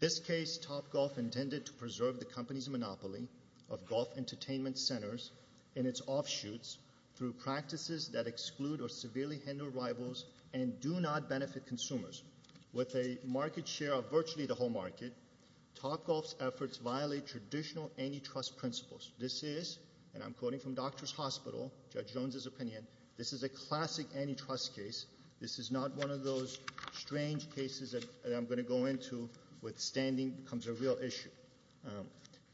This case, Topgolf, intended to preserve the company's monopoly of golf entertainment centers in its offshoots through practices that exclude or severely hinder rivals and do not benefit consumers. With a market share of virtually the whole market, Topgolf's efforts violate traditional antitrust principles. This is, and I'm quoting from Doctors Hospital, Judge Stewart, this is not one of those strange cases that I'm going to go into withstanding becomes a real issue.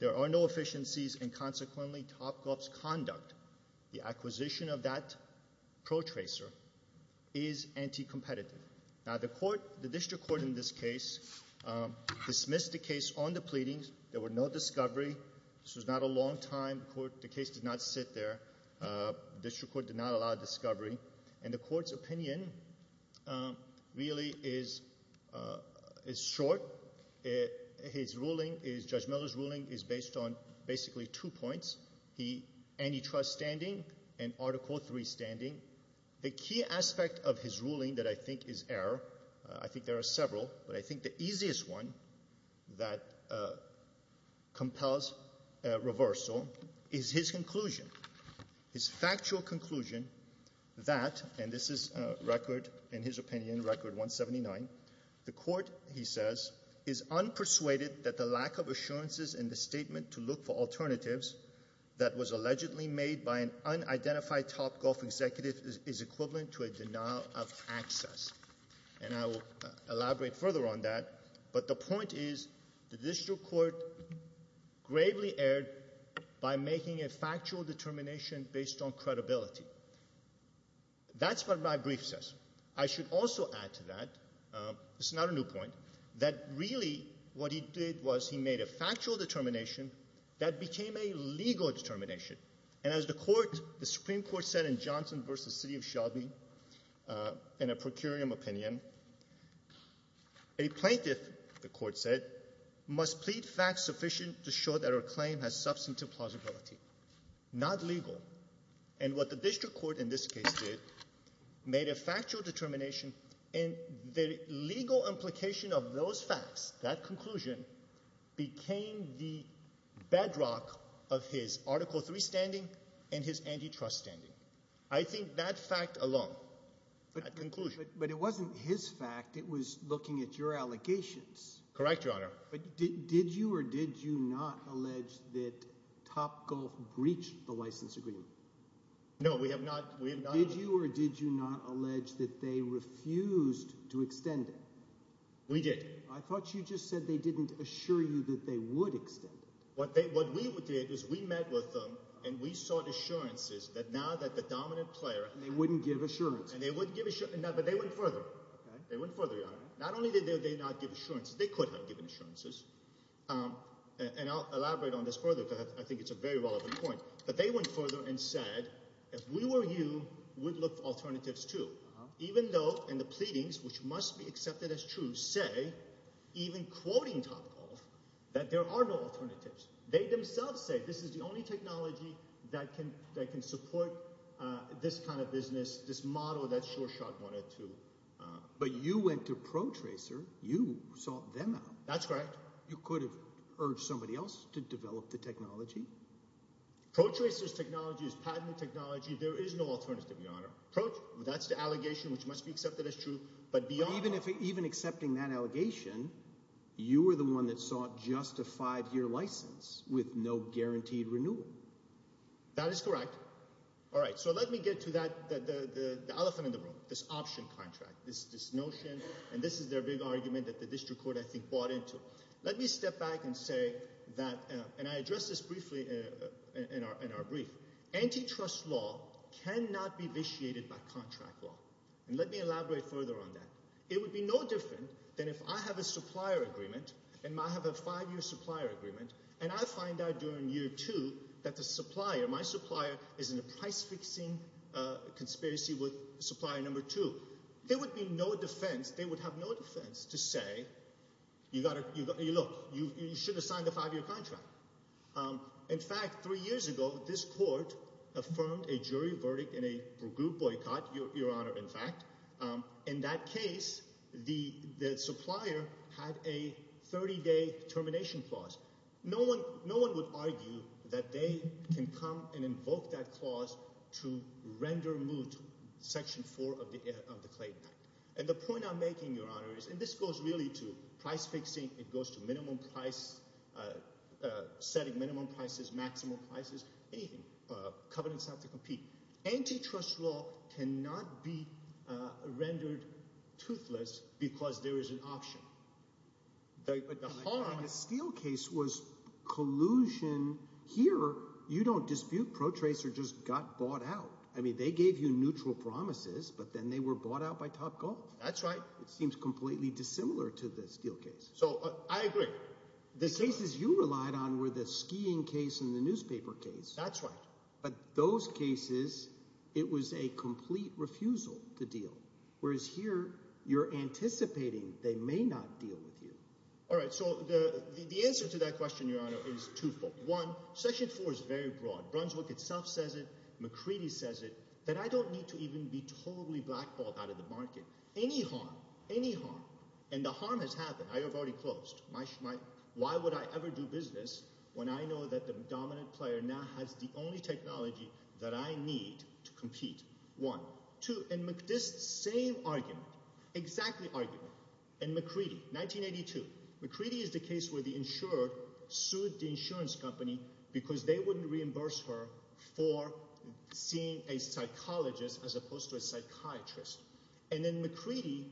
There are no efficiencies and consequently Topgolf's conduct, the acquisition of that protracer, is anti-competitive. Now the court, the district court in this case, dismissed the case on the pleadings. There were no discovery. This was not a long time court. The case did not sit there. The district court did not allow discovery. And the court's opinion really is short. His ruling, Judge Miller's ruling, is based on basically two points, antitrust standing and Article III standing. The key aspect of his ruling that I think is error, I think there are several, but I think the easiest one that compels reversal is his conclusion, his factual conclusion that, and this is record, in his opinion, record 179, the court, he says, is unpersuaded that the lack of assurances in the statement to look for alternatives that was allegedly made by an unidentified Topgolf executive is equivalent to a denial of access. And I will elaborate further on that, but the point is the district court gravely erred by making a factual determination based on credibility. That's what my brief says. I should also add to that, it's not a new point, that really what he did was he made a factual determination that became a legal determination. And as the court, the Supreme Court said in Johnson v. City of Shelby, in a procurium opinion, a plaintiff, the court said, must plead facts sufficient to show that her claim has substantive plausibility, not legal. And what the district court in this case did, made a factual determination, and the legal implication of those facts, that conclusion, became the bedrock of his Article III standing and his antitrust standing. I think that fact alone, that conclusion. But it wasn't his fact, it was looking at your allegations. Correct, Your Honor. But did you or did you not allege that Topgolf breached the license agreement? No, we have not. Did you or did you not allege that they refused to extend it? We did. I thought you just said they didn't assure you that they would extend it. What we did is we met with them and we sought assurances that now that the dominant player And they wouldn't give assurance. And they wouldn't give assurance, but they went further. They went further, Your Honor. Not only did they not give assurances, they could have given assurances. And I'll elaborate on this further because I think it's a very relevant point. But they went further and said, if we were you, we'd look for alternatives too. Even though in the pleadings, which must be accepted as true, say, even quoting Topgolf, that there are no alternatives. They themselves say this is the only technology that can support this kind of business, this model that SureShot wanted to. But you went to Protracer. You sought them out. That's correct. You could have urged somebody else to develop the technology. Protracer's technology is patented technology. There is no alternative, Your Honor. That's the allegation which must be accepted as true. But even accepting that allegation, you were the one that sought just a five-year license with no guaranteed renewal. That is correct. All right, so let me get to the elephant in the room, this option contract, this notion. And this is their big argument that the district court, I think, bought into. Let me step back and say that – and I addressed this briefly in our brief. Antitrust law cannot be vitiated by contract law. And let me elaborate further on that. It would be no different than if I have a supplier agreement and I have a five-year supplier agreement and I find out during year two that the supplier, my supplier, is in a price-fixing conspiracy with supplier number two. There would be no defense. They would have no defense to say, look, you should have signed a five-year contract. In fact, three years ago this court affirmed a jury verdict in a group boycott, Your Honor, in fact. In that case, the supplier had a 30-day termination clause. No one would argue that they can come and invoke that clause to render moot Section 4 of the Clayton Act. And the point I'm making, Your Honor, is – and this goes really to price-fixing. It goes to minimum price – setting minimum prices, maximum prices, anything. Covenants have to compete. Antitrust law cannot be rendered toothless because there is an option. But the steel case was collusion. Here you don't dispute. Protracer just got bought out. I mean they gave you neutral promises, but then they were bought out by Topgolf. That's right. It seems completely dissimilar to the steel case. So I agree. The cases you relied on were the skiing case and the newspaper case. That's right. But those cases it was a complete refusal to deal, whereas here you're anticipating they may not deal with you. All right. So the answer to that question, Your Honor, is twofold. One, Section 4 is very broad. Brunswick itself says it. McCready says it. That I don't need to even be totally blackballed out of the market. Any harm, any harm. And the harm has happened. I have already closed. Why would I ever do business when I know that the dominant player now has the only technology that I need to compete? One. Two, and this same argument, exactly argument, and McCready, 1982. McCready is the case where the insurer sued the insurance company because they wouldn't reimburse her for seeing a psychologist as opposed to a psychiatrist. And then McCready,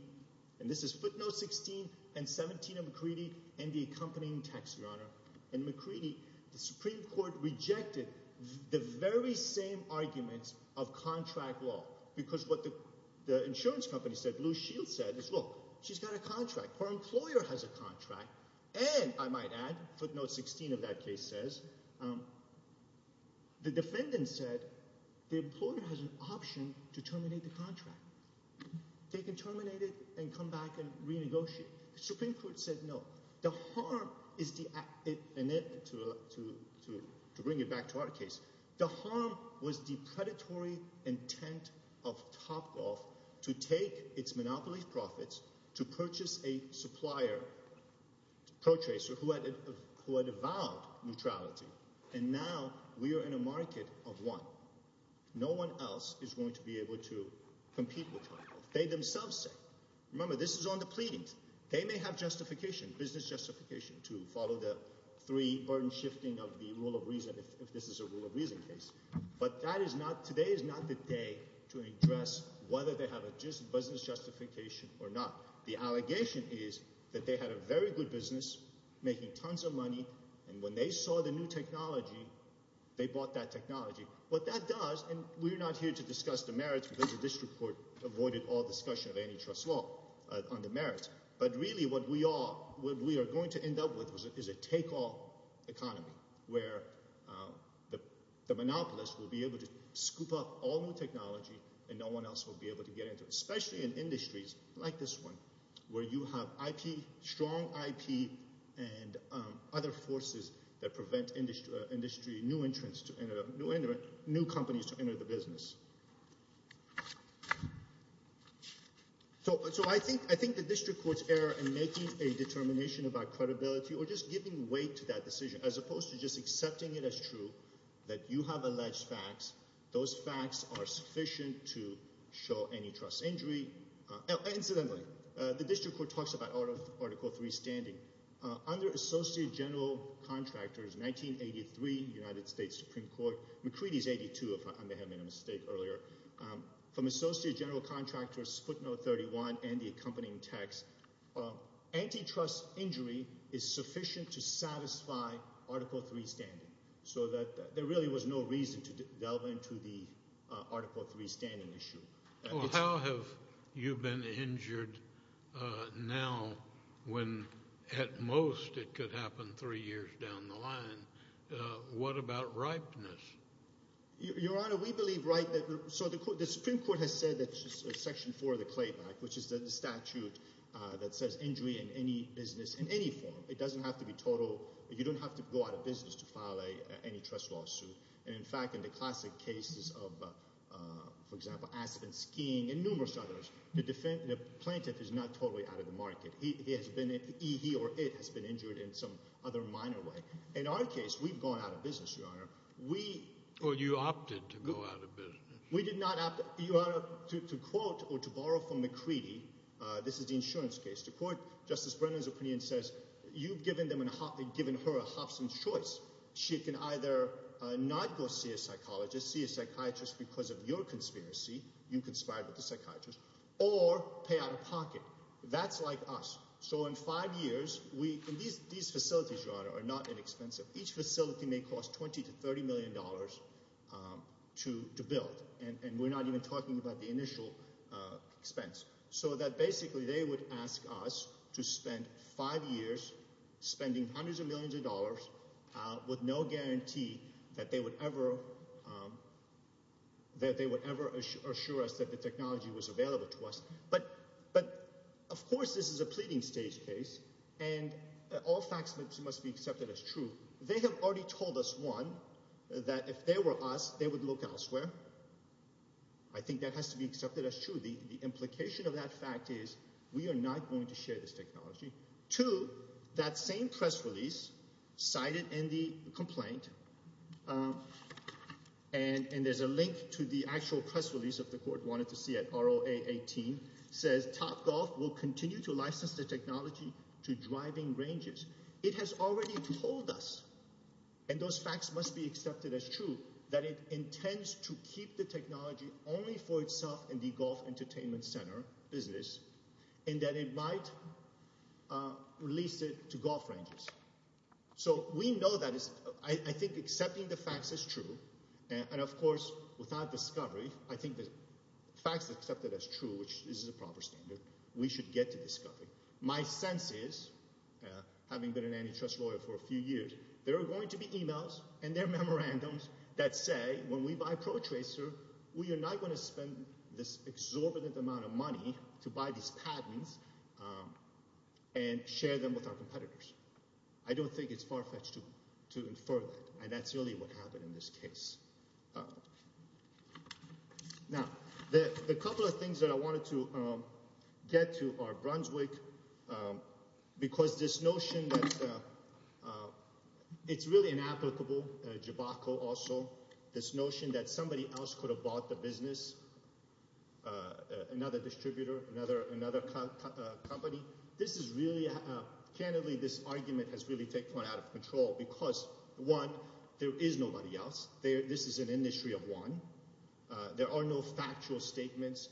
and this is footnote 16 and 17 of McCready and the accompanying text, Your Honor. In McCready, the Supreme Court rejected the very same arguments of contract law because what the insurance company said, Blue Shield said, is look, she's got a contract. Her employer has a contract. And I might add, footnote 16 of that case says, the defendant said the employer has an option to terminate the contract. They can terminate it and come back and renegotiate. The Supreme Court said no. The harm is the – and to bring it back to our case, the harm was the predatory intent of Topgolf to take its monopoly profits to purchase a supplier, protracer, who had avowed neutrality. And now we are in a market of one. No one else is going to be able to compete with Topgolf. They themselves say – remember this is on the pleadings. They may have justification, business justification to follow the three burden shifting of the rule of reason if this is a rule of reason case. But that is not – today is not the day to address whether they have a business justification or not. The allegation is that they had a very good business, making tons of money, and when they saw the new technology, they bought that technology. What that does – and we're not here to discuss the merits because the district court avoided all discussion of antitrust law on the merits. But really what we are going to end up with is a take-all economy where the monopolist will be able to scoop up all new technology and no one else will be able to get into it, especially in industries like this one where you have IP, strong IP, and other forces that prevent industry – new companies to enter the business. So I think the district court's error in making a determination about credibility or just giving weight to that decision as opposed to just accepting it as true that you have alleged facts. Those facts are sufficient to show antitrust injury. Incidentally, the district court talks about Article III standing. Under Associate General Contractors 1983, United States Supreme Court – McCready's 82 if I may have made a mistake earlier. From Associate General Contractors footnote 31 and the accompanying text, antitrust injury is sufficient to satisfy Article III standing so that there really was no reason to delve into the Article III standing issue. Well, how have you been injured now when at most it could happen three years down the line? What about ripeness? Your Honor, we believe right – so the Supreme Court has said that Section 4 of the Clayback, which is the statute that says injury in any business in any form. It doesn't have to be total. You don't have to go out of business to file an antitrust lawsuit. And, in fact, in the classic cases of, for example, acid and skiing and numerous others, the plaintiff is not totally out of the market. He has been – he or it has been injured in some other minor way. In our case, we've gone out of business, Your Honor. We – Well, you opted to go out of business. We did not opt – Your Honor, to quote or to borrow from McCready, this is the insurance case. To quote Justice Brennan's opinion, it says you've given them – given her a Hobson's choice. She can either not go see a psychologist, see a psychiatrist because of your conspiracy – you conspired with the psychiatrist – or pay out of pocket. That's like us. So in five years, we – and these facilities, Your Honor, are not inexpensive. Each facility may cost $20 million to $30 million to build, and we're not even talking about the initial expense. So that basically they would ask us to spend five years spending hundreds of millions of dollars with no guarantee that they would ever – that they would ever assure us that the technology was available to us. But, of course, this is a pleading stage case, and all facts must be accepted as true. They have already told us, one, that if they were us, they would look elsewhere. I think that has to be accepted as true. The implication of that fact is we are not going to share this technology. Two, that same press release cited in the complaint – and there's a link to the actual press release that the court wanted to see at ROA 18 – says Topgolf will continue to license the technology to driving ranges. It has already told us, and those facts must be accepted as true, that it intends to keep the technology only for itself in the golf entertainment center business and that it might release it to golf ranges. So we know that is – I think accepting the facts is true. And, of course, without discovery, I think the facts are accepted as true, which is the proper standard. We should get to discovery. My sense is, having been an antitrust lawyer for a few years, there are going to be emails and there are memorandums that say when we buy Protracer, we are not going to spend this exorbitant amount of money to buy these patents and share them with our competitors. I don't think it's far-fetched to infer that, and that's really what happened in this case. Now, the couple of things that I wanted to get to are Brunswick, because this notion that it's really inapplicable, Jabacco also, this notion that somebody else could have bought the business, another distributor, another company. This is really – candidly, this argument has really taken out of control because, one, there is nobody else. This is an industry of one. There are no factual statements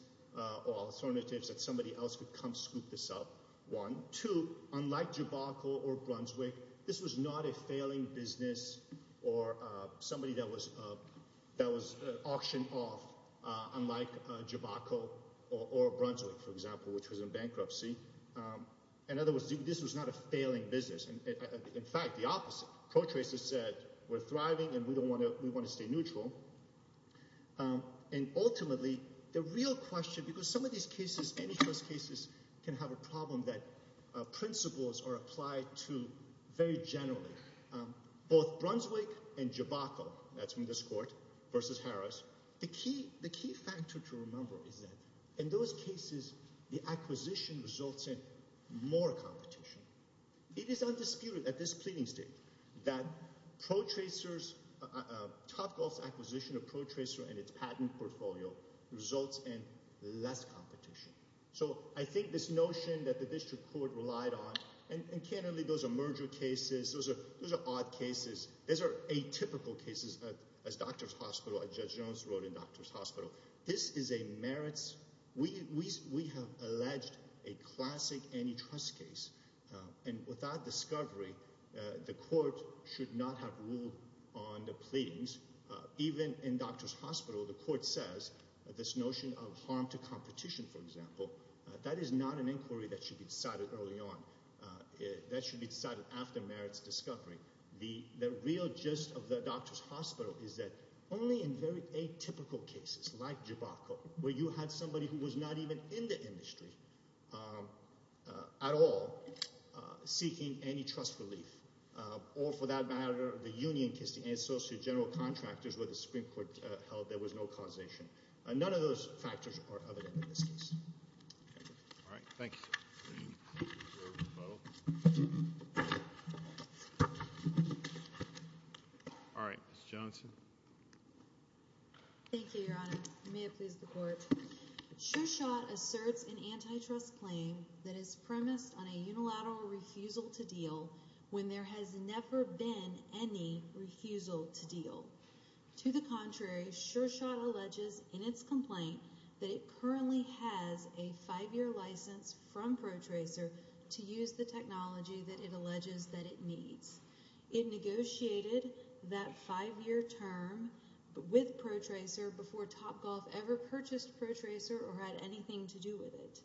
or alternatives that somebody else could come scoop this up, one. Two, unlike Jabacco or Brunswick, this was not a failing business or somebody that was auctioned off, unlike Jabacco or Brunswick, for example, which was in bankruptcy. In other words, this was not a failing business. In fact, the opposite. Protracer said we're thriving and we want to stay neutral. And ultimately, the real question – because some of these cases, any of those cases, can have a problem that principles are applied to very generally, both Brunswick and Jabacco. That's from this court versus Harris. The key factor to remember is that in those cases, the acquisition results in more competition. It is undisputed at this pleading stage that Protracer's – Topgolf's acquisition of Protracer and its patent portfolio results in less competition. So I think this notion that the district court relied on – and candidly, those are merger cases. Those are odd cases. Those are atypical cases, as Doctors Hospital – as Judge Jones wrote in Doctors Hospital. This is a merits – we have alleged a classic antitrust case. And without discovery, the court should not have ruled on the pleadings. Even in Doctors Hospital, the court says this notion of harm to competition, for example, that is not an inquiry that should be decided early on. That should be decided after merits discovery. The real gist of the Doctors Hospital is that only in very atypical cases like Jabacco, where you had somebody who was not even in the industry at all seeking antitrust relief, or for that matter, the union case, the associate general contractors where the Supreme Court held there was no causation. None of those factors are evident in this case. All right. Thank you. All right. Ms. Johnson. Thank you, Your Honor. May it please the Court. SureShot asserts an antitrust claim that is premised on a unilateral refusal to deal when there has never been any refusal to deal. To the contrary, SureShot alleges in its complaint that it currently has a five-year license from Protracer to use the technology that it alleges that it needs. It negotiated that five-year term with Protracer before Topgolf ever purchased Protracer or had anything to do with it.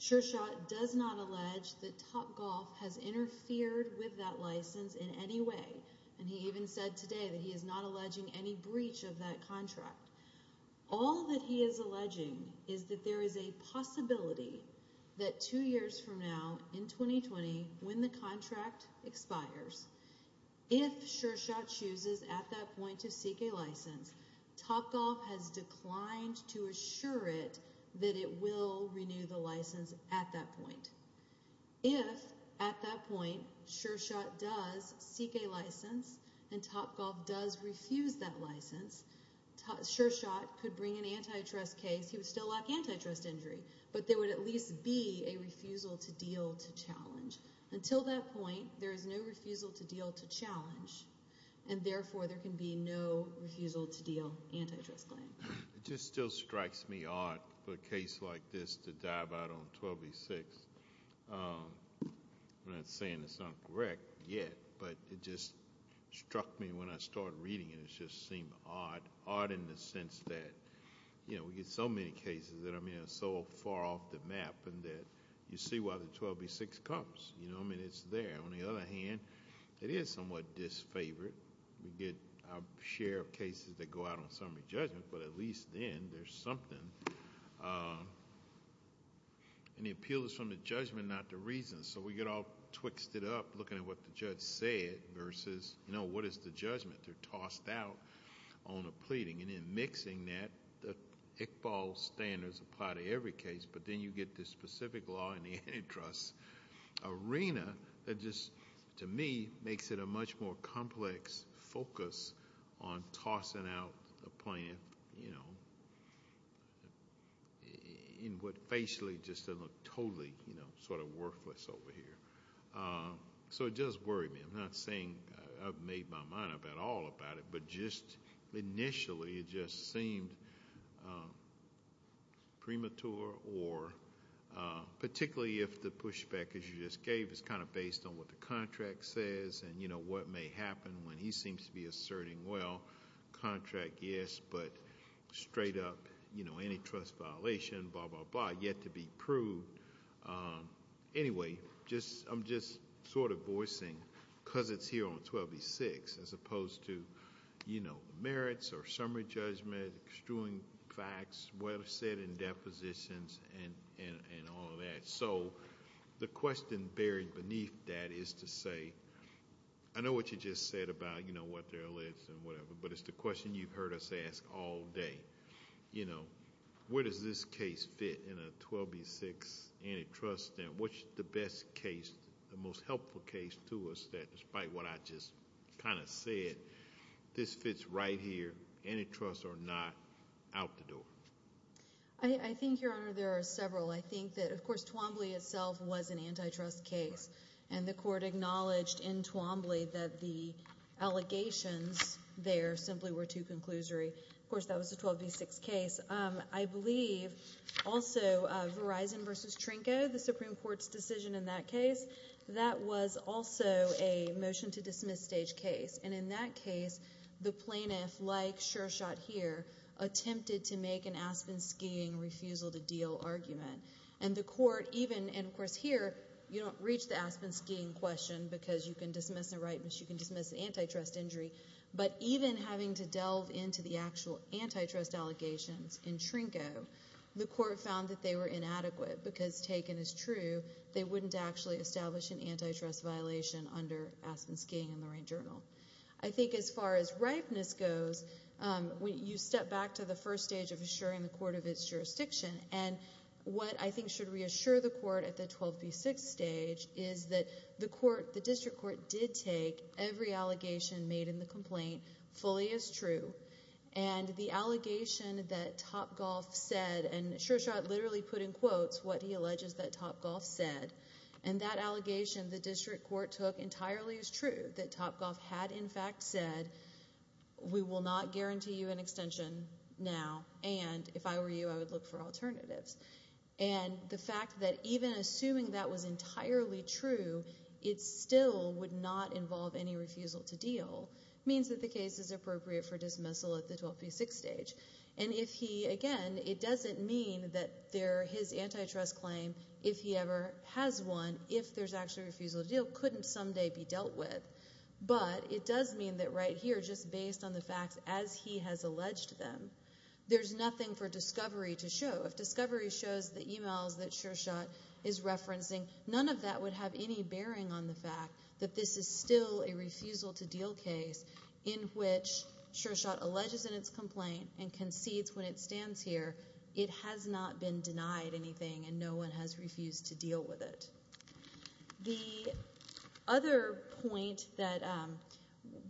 SureShot does not allege that Topgolf has interfered with that license in any way. And he even said today that he is not alleging any breach of that contract. All that he is alleging is that there is a possibility that two years from now, in 2020, when the contract expires, if SureShot chooses at that point to seek a license, Topgolf has declined to assure it that it will renew the license at that point. If at that point SureShot does seek a license and Topgolf does refuse that license, SureShot could bring an antitrust case. He would still lack antitrust injury, but there would at least be a refusal to deal to challenge. Until that point, there is no refusal to deal to challenge, and therefore there can be no refusal to deal antitrust claim. It just still strikes me odd for a case like this to dive out on 12B6. I'm not saying it's not correct yet, but it just struck me when I started reading it. It just seemed odd, odd in the sense that we get so many cases that are so far off the map and that you see why the 12B6 comes. It's there. On the other hand, it is somewhat disfavored. We get our share of cases that go out on summary judgment, but at least then there's something. The appeal is from the judgment, not the reason. We get all twixted up looking at what the judge said versus what is the judgment. They're tossed out on a pleading. In mixing that, the Iqbal standards apply to every case, but then you get this specific law in the antitrust arena that just, to me, makes it a much more complex focus on tossing out a plaintiff in what facially just doesn't look totally sort of worthless over here. So it does worry me. I'm not saying I've made my mind up at all about it, but just initially it just seemed premature, or particularly if the pushback, as you just gave, is kind of based on what the contract says and what may happen when he seems to be asserting, well, contract, yes, but straight up antitrust violation, blah, blah, blah, yet to be proved. Anyway, I'm just sort of voicing, because it's here on 12B6, as opposed to merits or summary judgment, extruing facts, what is said in depositions, and all of that. So the question buried beneath that is to say, I know what you just said about what they're alleged and whatever, but it's the question you've heard us ask all day. Where does this case fit in a 12B6 antitrust stand? What's the best case, the most helpful case to us that, despite what I just kind of said, this fits right here, antitrust or not, out the door? I think, Your Honor, there are several. I think that, of course, Twombly itself was an antitrust case, and the court acknowledged in Twombly that the allegations there simply were too conclusory. Of course, that was a 12B6 case. I believe also Verizon v. Trinco, the Supreme Court's decision in that case, that was also a motion-to-dismiss-stage case. And in that case, the plaintiff, like Shershot here, attempted to make an Aspen skiing refusal-to-deal argument. And the court even, and of course here, you don't reach the Aspen skiing question, because you can dismiss a right, but you can dismiss an antitrust injury. But even having to delve into the actual antitrust allegations in Trinco, the court found that they were inadequate, because taken as true, they wouldn't actually establish an antitrust violation under Aspen skiing in the rain journal. I think as far as ripeness goes, you step back to the first stage of assuring the court of its jurisdiction, and what I think should reassure the court at the 12B6 stage is that the court, the district court, did take every allegation made in the complaint fully as true. And the allegation that Topgolf said, and Shershot literally put in quotes what he alleges that Topgolf said, and that allegation the district court took entirely as true, that Topgolf had in fact said, we will not guarantee you an extension now, and if I were you, I would look for alternatives. And the fact that even assuming that was entirely true, it still would not involve any refusal to deal, means that the case is appropriate for dismissal at the 12B6 stage. And if he, again, it doesn't mean that his antitrust claim, if he ever has one, if there's actually a refusal to deal, couldn't someday be dealt with. But it does mean that right here, just based on the facts as he has alleged them, there's nothing for discovery to show. If discovery shows the emails that Shershot is referencing, none of that would have any bearing on the fact that this is still a refusal to deal case in which Shershot alleges in its complaint and concedes when it stands here it has not been denied anything and no one has refused to deal with it. The other point that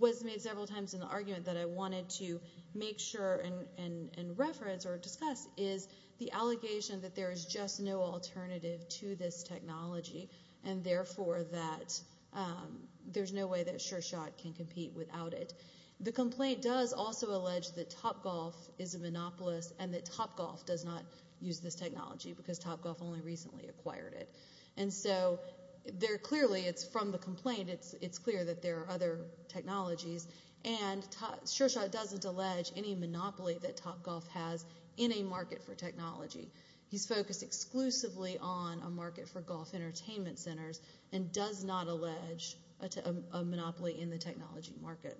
was made several times in the argument that I wanted to make sure and reference or discuss is the allegation that there is just no alternative to this technology and therefore that there's no way that Shershot can compete without it. The complaint does also allege that Topgolf is a monopolist and that Topgolf does not use this technology because Topgolf only recently acquired it. And so there clearly, it's from the complaint, it's clear that there are other technologies, and Shershot doesn't allege any monopoly that Topgolf has in a market for technology. He's focused exclusively on a market for golf entertainment centers and does not allege a monopoly in the technology market.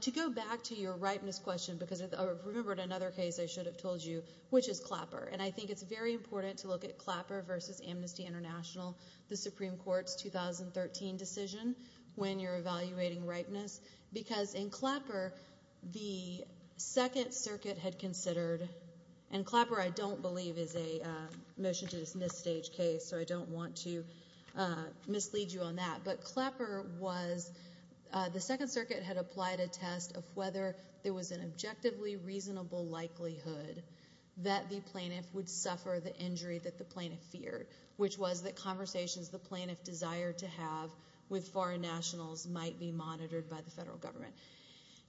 To go back to your ripeness question, because I remembered another case I should have told you, which is Clapper. And I think it's very important to look at Clapper versus Amnesty International, the Supreme Court's 2013 decision when you're evaluating ripeness. Because in Clapper, the Second Circuit had considered, and Clapper I don't believe is a motion to dismiss stage case, so I don't want to mislead you on that. But Clapper was, the Second Circuit had applied a test of whether there was an objectively reasonable likelihood that the plaintiff would suffer the injury that the plaintiff feared, which was that conversations the plaintiff desired to have with foreign nationals might be monitored by the federal government.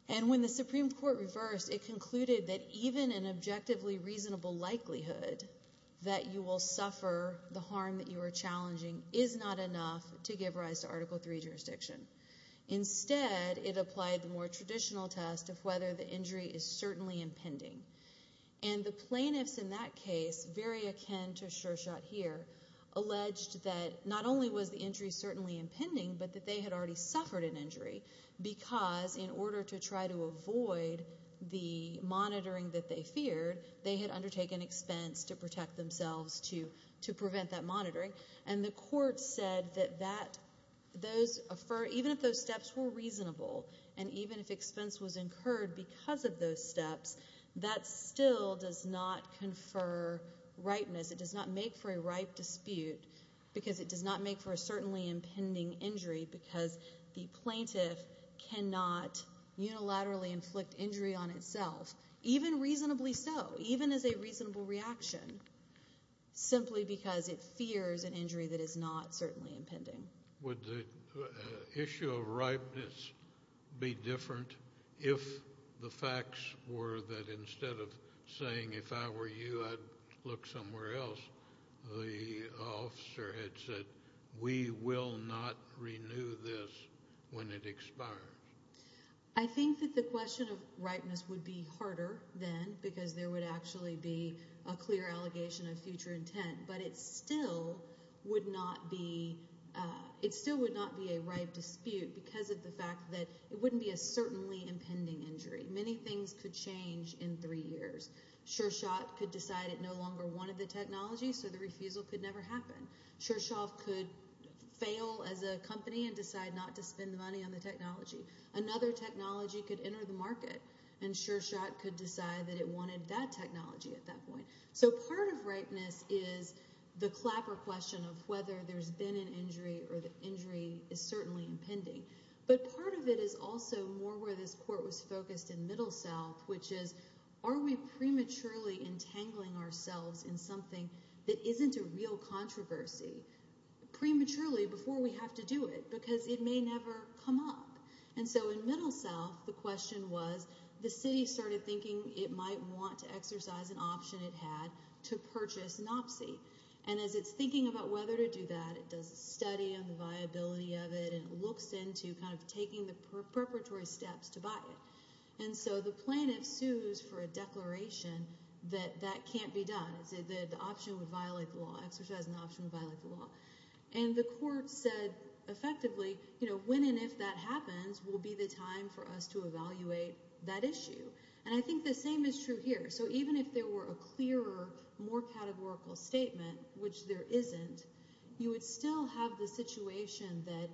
And when the Supreme Court reversed, it concluded that even an objectively reasonable likelihood that you will suffer the harm that you are challenging is not enough to give rise to Article III jurisdiction. Instead, it applied the more traditional test of whether the injury is certainly impending. And the plaintiffs in that case, very akin to Shershot here, alleged that not only was the injury certainly impending, but that they had already suffered an injury, because in order to try to avoid the monitoring that they feared, they had undertaken expense to protect themselves to prevent that monitoring. And the court said that even if those steps were reasonable, and even if expense was incurred because of those steps, that still does not confer ripeness. It does not make for a ripe dispute, because it does not make for a certainly impending injury, because the plaintiff cannot unilaterally inflict injury on itself, even reasonably so, even as a reasonable reaction, simply because it fears an injury that is not certainly impending. Would the issue of ripeness be different if the facts were that instead of saying, if I were you, I'd look somewhere else, the officer had said, we will not renew this when it expires? I think that the question of ripeness would be harder then, because there would actually be a clear allegation of future intent. But it still would not be a ripe dispute because of the fact that it wouldn't be a certainly impending injury. Many things could change in three years. SureShot could decide it no longer wanted the technology, so the refusal could never happen. SureShot could fail as a company and decide not to spend the money on the technology. Another technology could enter the market, and SureShot could decide that it wanted that technology at that point. So part of ripeness is the clapper question of whether there's been an injury or the injury is certainly impending. But part of it is also more where this court was focused in Middle South, which is are we prematurely entangling ourselves in something that isn't a real controversy, prematurely before we have to do it, because it may never come up. And so in Middle South, the question was the city started thinking it might want to exercise an option it had to purchase NOPC. And as it's thinking about whether to do that, it does a study on the viability of it, and it looks into kind of taking the preparatory steps to buy it. And so the plaintiff sues for a declaration that that can't be done, that the option would violate the law, exercising the option would violate the law. And the court said effectively, you know, when and if that happens will be the time for us to evaluate that issue. And I think the same is true here. So even if there were a clearer, more categorical statement, which there isn't, you would still have the situation that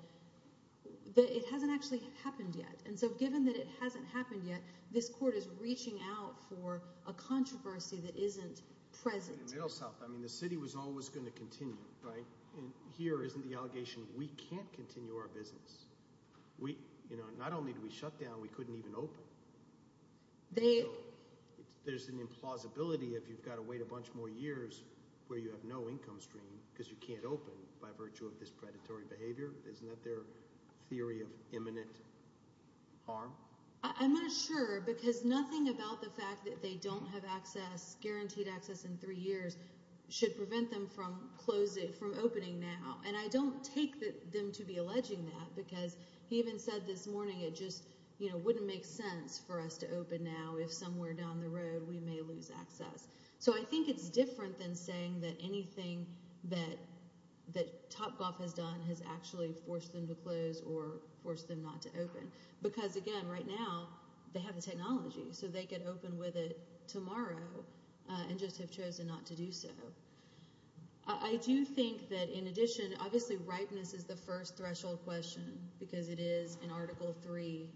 it hasn't actually happened yet. And so given that it hasn't happened yet, this court is reaching out for a controversy that isn't present. In Middle South, I mean, the city was always going to continue, right? And here isn't the allegation we can't continue our business. Not only do we shut down, we couldn't even open. There's an implausibility if you've got to wait a bunch more years where you have no income stream because you can't open by virtue of this predatory behavior. Isn't that their theory of imminent harm? I'm not sure because nothing about the fact that they don't have guaranteed access in three years should prevent them from opening now. And I don't take them to be alleging that because he even said this morning it just wouldn't make sense for us to open now if somewhere down the road we may lose access. So I think it's different than saying that anything that Topgolf has done has actually forced them to close or forced them not to open. Because, again, right now they have the technology, so they could open with it tomorrow and just have chosen not to do so. I do think that in addition, obviously, ripeness is the first threshold question because it is an Article III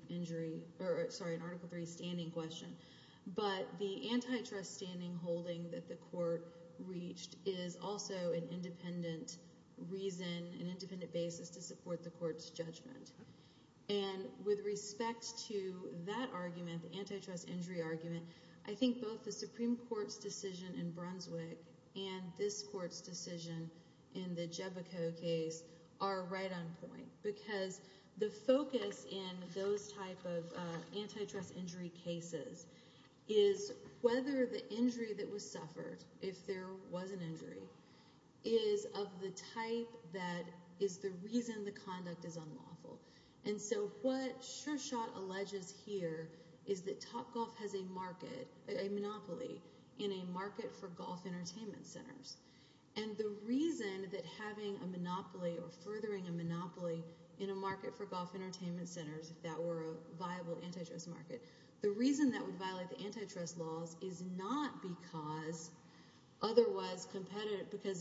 standing question. But the antitrust standing holding that the court reached is also an independent reason, an independent basis to support the court's judgment. And with respect to that argument, the antitrust injury argument, I think both the Supreme Court's decision in Brunswick and this court's decision in the Jebico case are right on point because the focus in those type of antitrust injury cases is whether the injury that was suffered, if there was an injury, is of the type that is the reason the conduct is unlawful. And so what Shershot alleges here is that Topgolf has a market, a monopoly in a market for golf entertainment centers. And the reason that having a monopoly or furthering a monopoly in a market for golf entertainment centers, if that were a viable antitrust market, the reason that would violate the antitrust laws is not because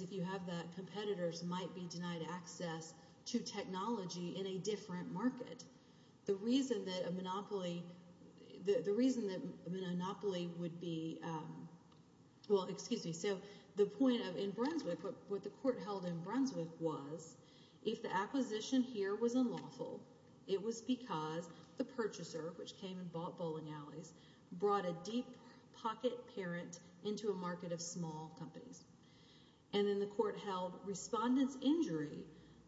if you have that, competitors might be denied access to technology in a different market. The reason that a monopoly would be—well, excuse me. So the point in Brunswick, what the court held in Brunswick was if the acquisition here was unlawful, it was because the purchaser, which came and bought Bowling Alleys, brought a deep pocket parent into a market of small companies. And then the court held respondent's injury,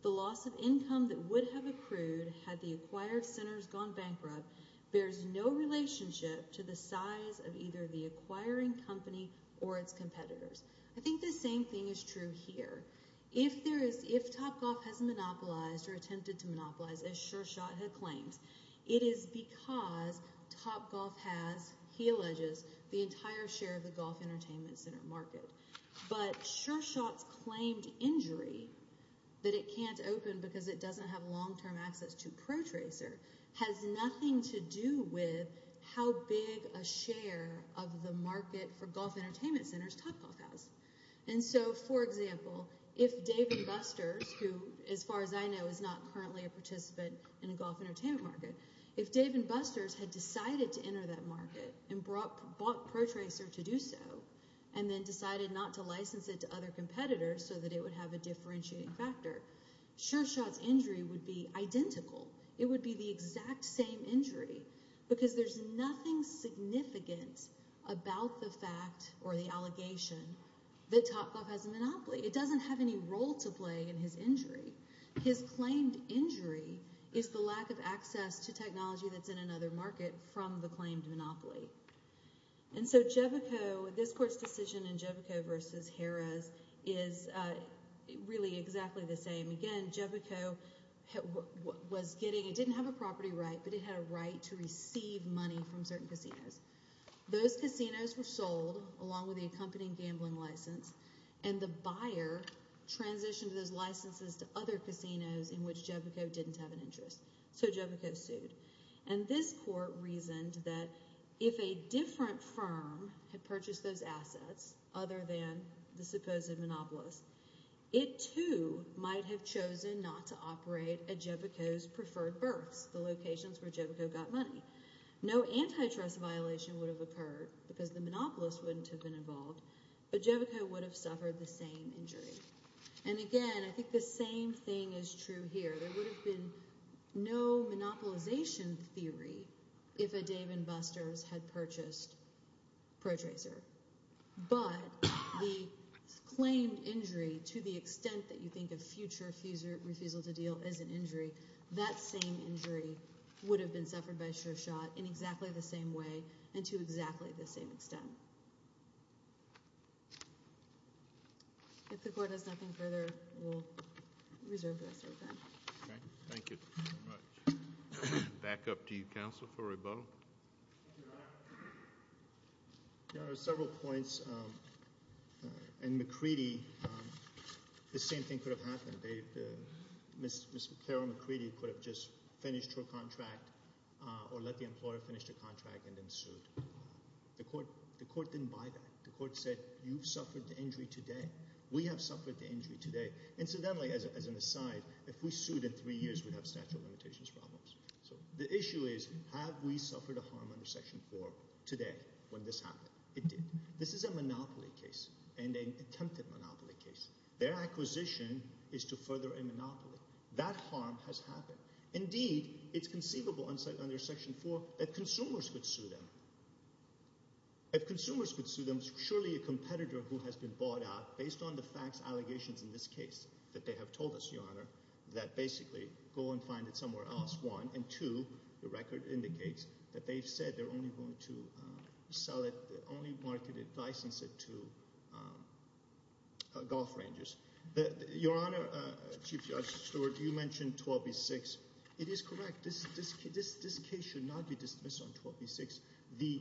the loss of income that would have accrued had the acquired centers gone bankrupt, bears no relationship to the size of either the acquiring company or its competitors. I think the same thing is true here. If Topgolf has monopolized or attempted to monopolize, as Shershot had claimed, it is because Topgolf has, he alleges, the entire share of the golf entertainment center market. But Shershot's claimed injury, that it can't open because it doesn't have long-term access to Protracer, has nothing to do with how big a share of the market for golf entertainment centers Topgolf has. And so, for example, if David Busters, who, as far as I know, is not currently a participant in a golf entertainment market, if David Busters had decided to enter that market and bought Protracer to do so and then decided not to license it to other competitors so that it would have a differentiating factor, Shershot's injury would be identical. It would be the exact same injury because there's nothing significant about the fact or the allegation that Topgolf has a monopoly. It doesn't have any role to play in his injury. His claimed injury is the lack of access to technology that's in another market from the claimed monopoly. And so Jevico, this court's decision in Jevico v. Harrah's, is really exactly the same. Again, Jevico was getting, it didn't have a property right, but it had a right to receive money from certain casinos. Those casinos were sold, along with the accompanying gambling license, and the buyer transitioned those licenses to other casinos in which Jevico didn't have an interest. So Jevico sued. And this court reasoned that if a different firm had purchased those assets other than the supposed monopolist, it too might have chosen not to operate at Jevico's preferred berths, the locations where Jevico got money. No antitrust violation would have occurred because the monopolist wouldn't have been involved, but Jevico would have suffered the same injury. And again, I think the same thing is true here. There would have been no monopolization theory if a Dave & Buster's had purchased Protracer. But the claimed injury, to the extent that you think of future refusal to deal as an injury, that same injury would have been suffered by SureShot in exactly the same way and to exactly the same extent. If the Court has nothing further, we'll reserve the rest of the time. Okay. Thank you very much. Back up to you, Counsel, for rebuttal. There are several points, and McCready, the same thing could have happened. Ms. Carol McCready could have just finished her contract or let the employer finish their contract and then sued. The Court didn't buy that. The Court said, you've suffered the injury today. We have suffered the injury today. Incidentally, as an aside, if we sued in three years, we'd have statute of limitations problems. So the issue is, have we suffered a harm under Section 4 today when this happened? It did. This is a monopoly case and an attempted monopoly case. Their acquisition is to further a monopoly. That harm has happened. Indeed, it's conceivable under Section 4 that consumers could sue them. If consumers could sue them, surely a competitor who has been bought out based on the facts, allegations in this case that they have told us, Your Honor, that basically go and find it somewhere else, one. And two, the record indicates that they've said they're only going to sell it, only market it, license it to golf ranges. Your Honor, Chief Judge Stewart, you mentioned 12B6. It is correct. This case should not be dismissed on 12B6, the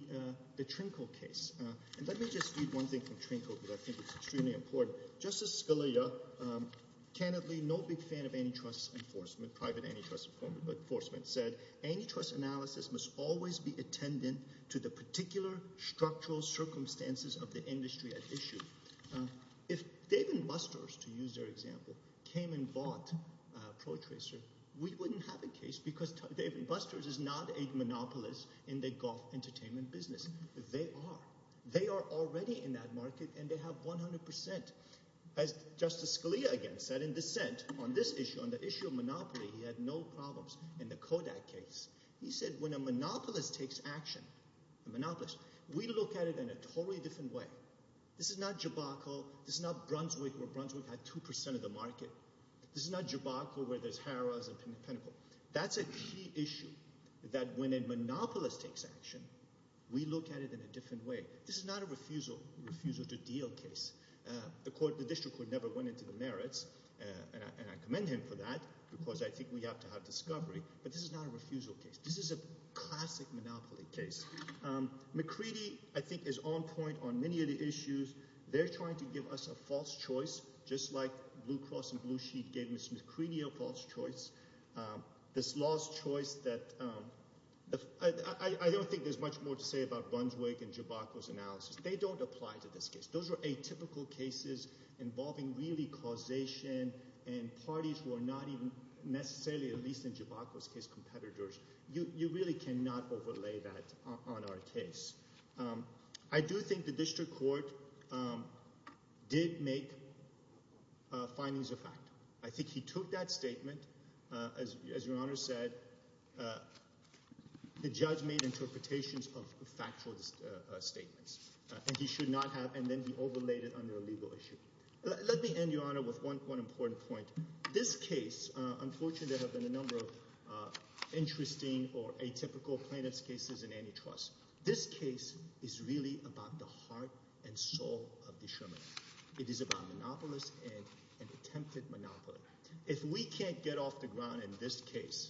Trinco case. And let me just read one thing from Trinco because I think it's extremely important. Justice Scalia, candidly no big fan of antitrust enforcement, private antitrust enforcement, said antitrust analysis must always be attendant to the particular structural circumstances of the industry at issue. If Dave & Buster's, to use their example, came and bought Protracer, we wouldn't have a case because Dave & Buster's is not a monopolist in the golf entertainment business. They are. They are already in that market and they have 100%. As Justice Scalia again said in dissent on this issue, on the issue of monopoly, he had no problems in the Kodak case. He said when a monopolist takes action, a monopolist, we look at it in a totally different way. This is not Jabocco. This is not Brunswick where Brunswick had 2% of the market. This is not Jabocco where there's Harrah's and Pinnacle. That's a key issue that when a monopolist takes action, we look at it in a different way. This is not a refusal to deal case. The district court never went into the merits, and I commend him for that because I think we have to have discovery. But this is not a refusal case. This is a classic monopoly case. McCready, I think, is on point on many of the issues. They're trying to give us a false choice just like Blue Cross and Blue Sheet gave Ms. McCready a false choice. This lost choice that I don't think there's much more to say about Brunswick and Jabocco's analysis. They don't apply to this case. Those are atypical cases involving really causation and parties who are not even necessarily, at least in Jabocco's case, competitors. You really cannot overlay that on our case. I do think the district court did make findings of fact. I think he took that statement. As Your Honor said, the judge made interpretations of factual statements, and he should not have, and then he overlaid it on their legal issue. Let me end, Your Honor, with one important point. This case – unfortunately, there have been a number of interesting or atypical plaintiff's cases in antitrust. This case is really about the heart and soul of the Sherman. It is about a monopolist and an attempted monopolist. If we can't get off the ground in this case,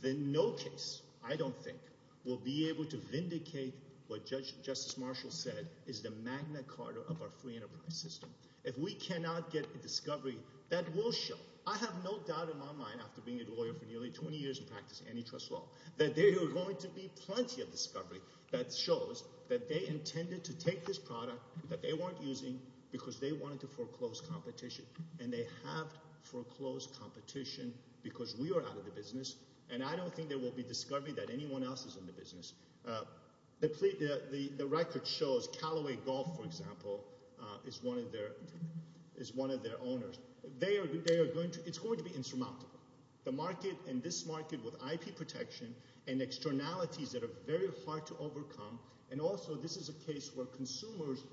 then no case, I don't think, will be able to vindicate what Justice Marshall said is the Magna Carta of our free enterprise system. If we cannot get a discovery, that will show. I have no doubt in my mind after being a lawyer for nearly 20 years and practicing antitrust law that there are going to be plenty of discovery that shows that they intended to take this product, that they weren't using because they wanted to foreclose competition, and they have foreclosed competition because we are out of the business, and I don't think there will be discovery that anyone else is in the business. The record shows Callaway Golf, for example, is one of their owners. They are going to – it's going to be insurmountable. The market and this market with IP protection and externalities that are very hard to overcome, and also this is a case where consumers –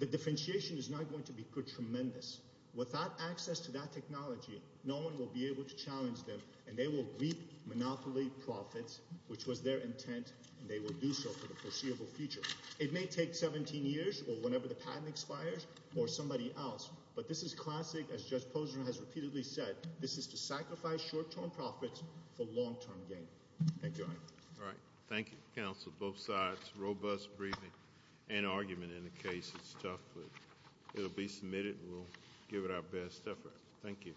the differentiation is not going to be tremendous. Without access to that technology, no one will be able to challenge them, and they will reap monopoly profits, which was their intent, and they will do so for the foreseeable future. It may take 17 years or whenever the patent expires or somebody else, but this is classic, as Judge Posner has repeatedly said. This is to sacrifice short-term profits for long-term gain. Thank you, Your Honor. All right. Thank you, counsel, both sides. Robust briefing and argument in the case. It's tough, but it will be submitted and we'll give it our best effort. Thank you.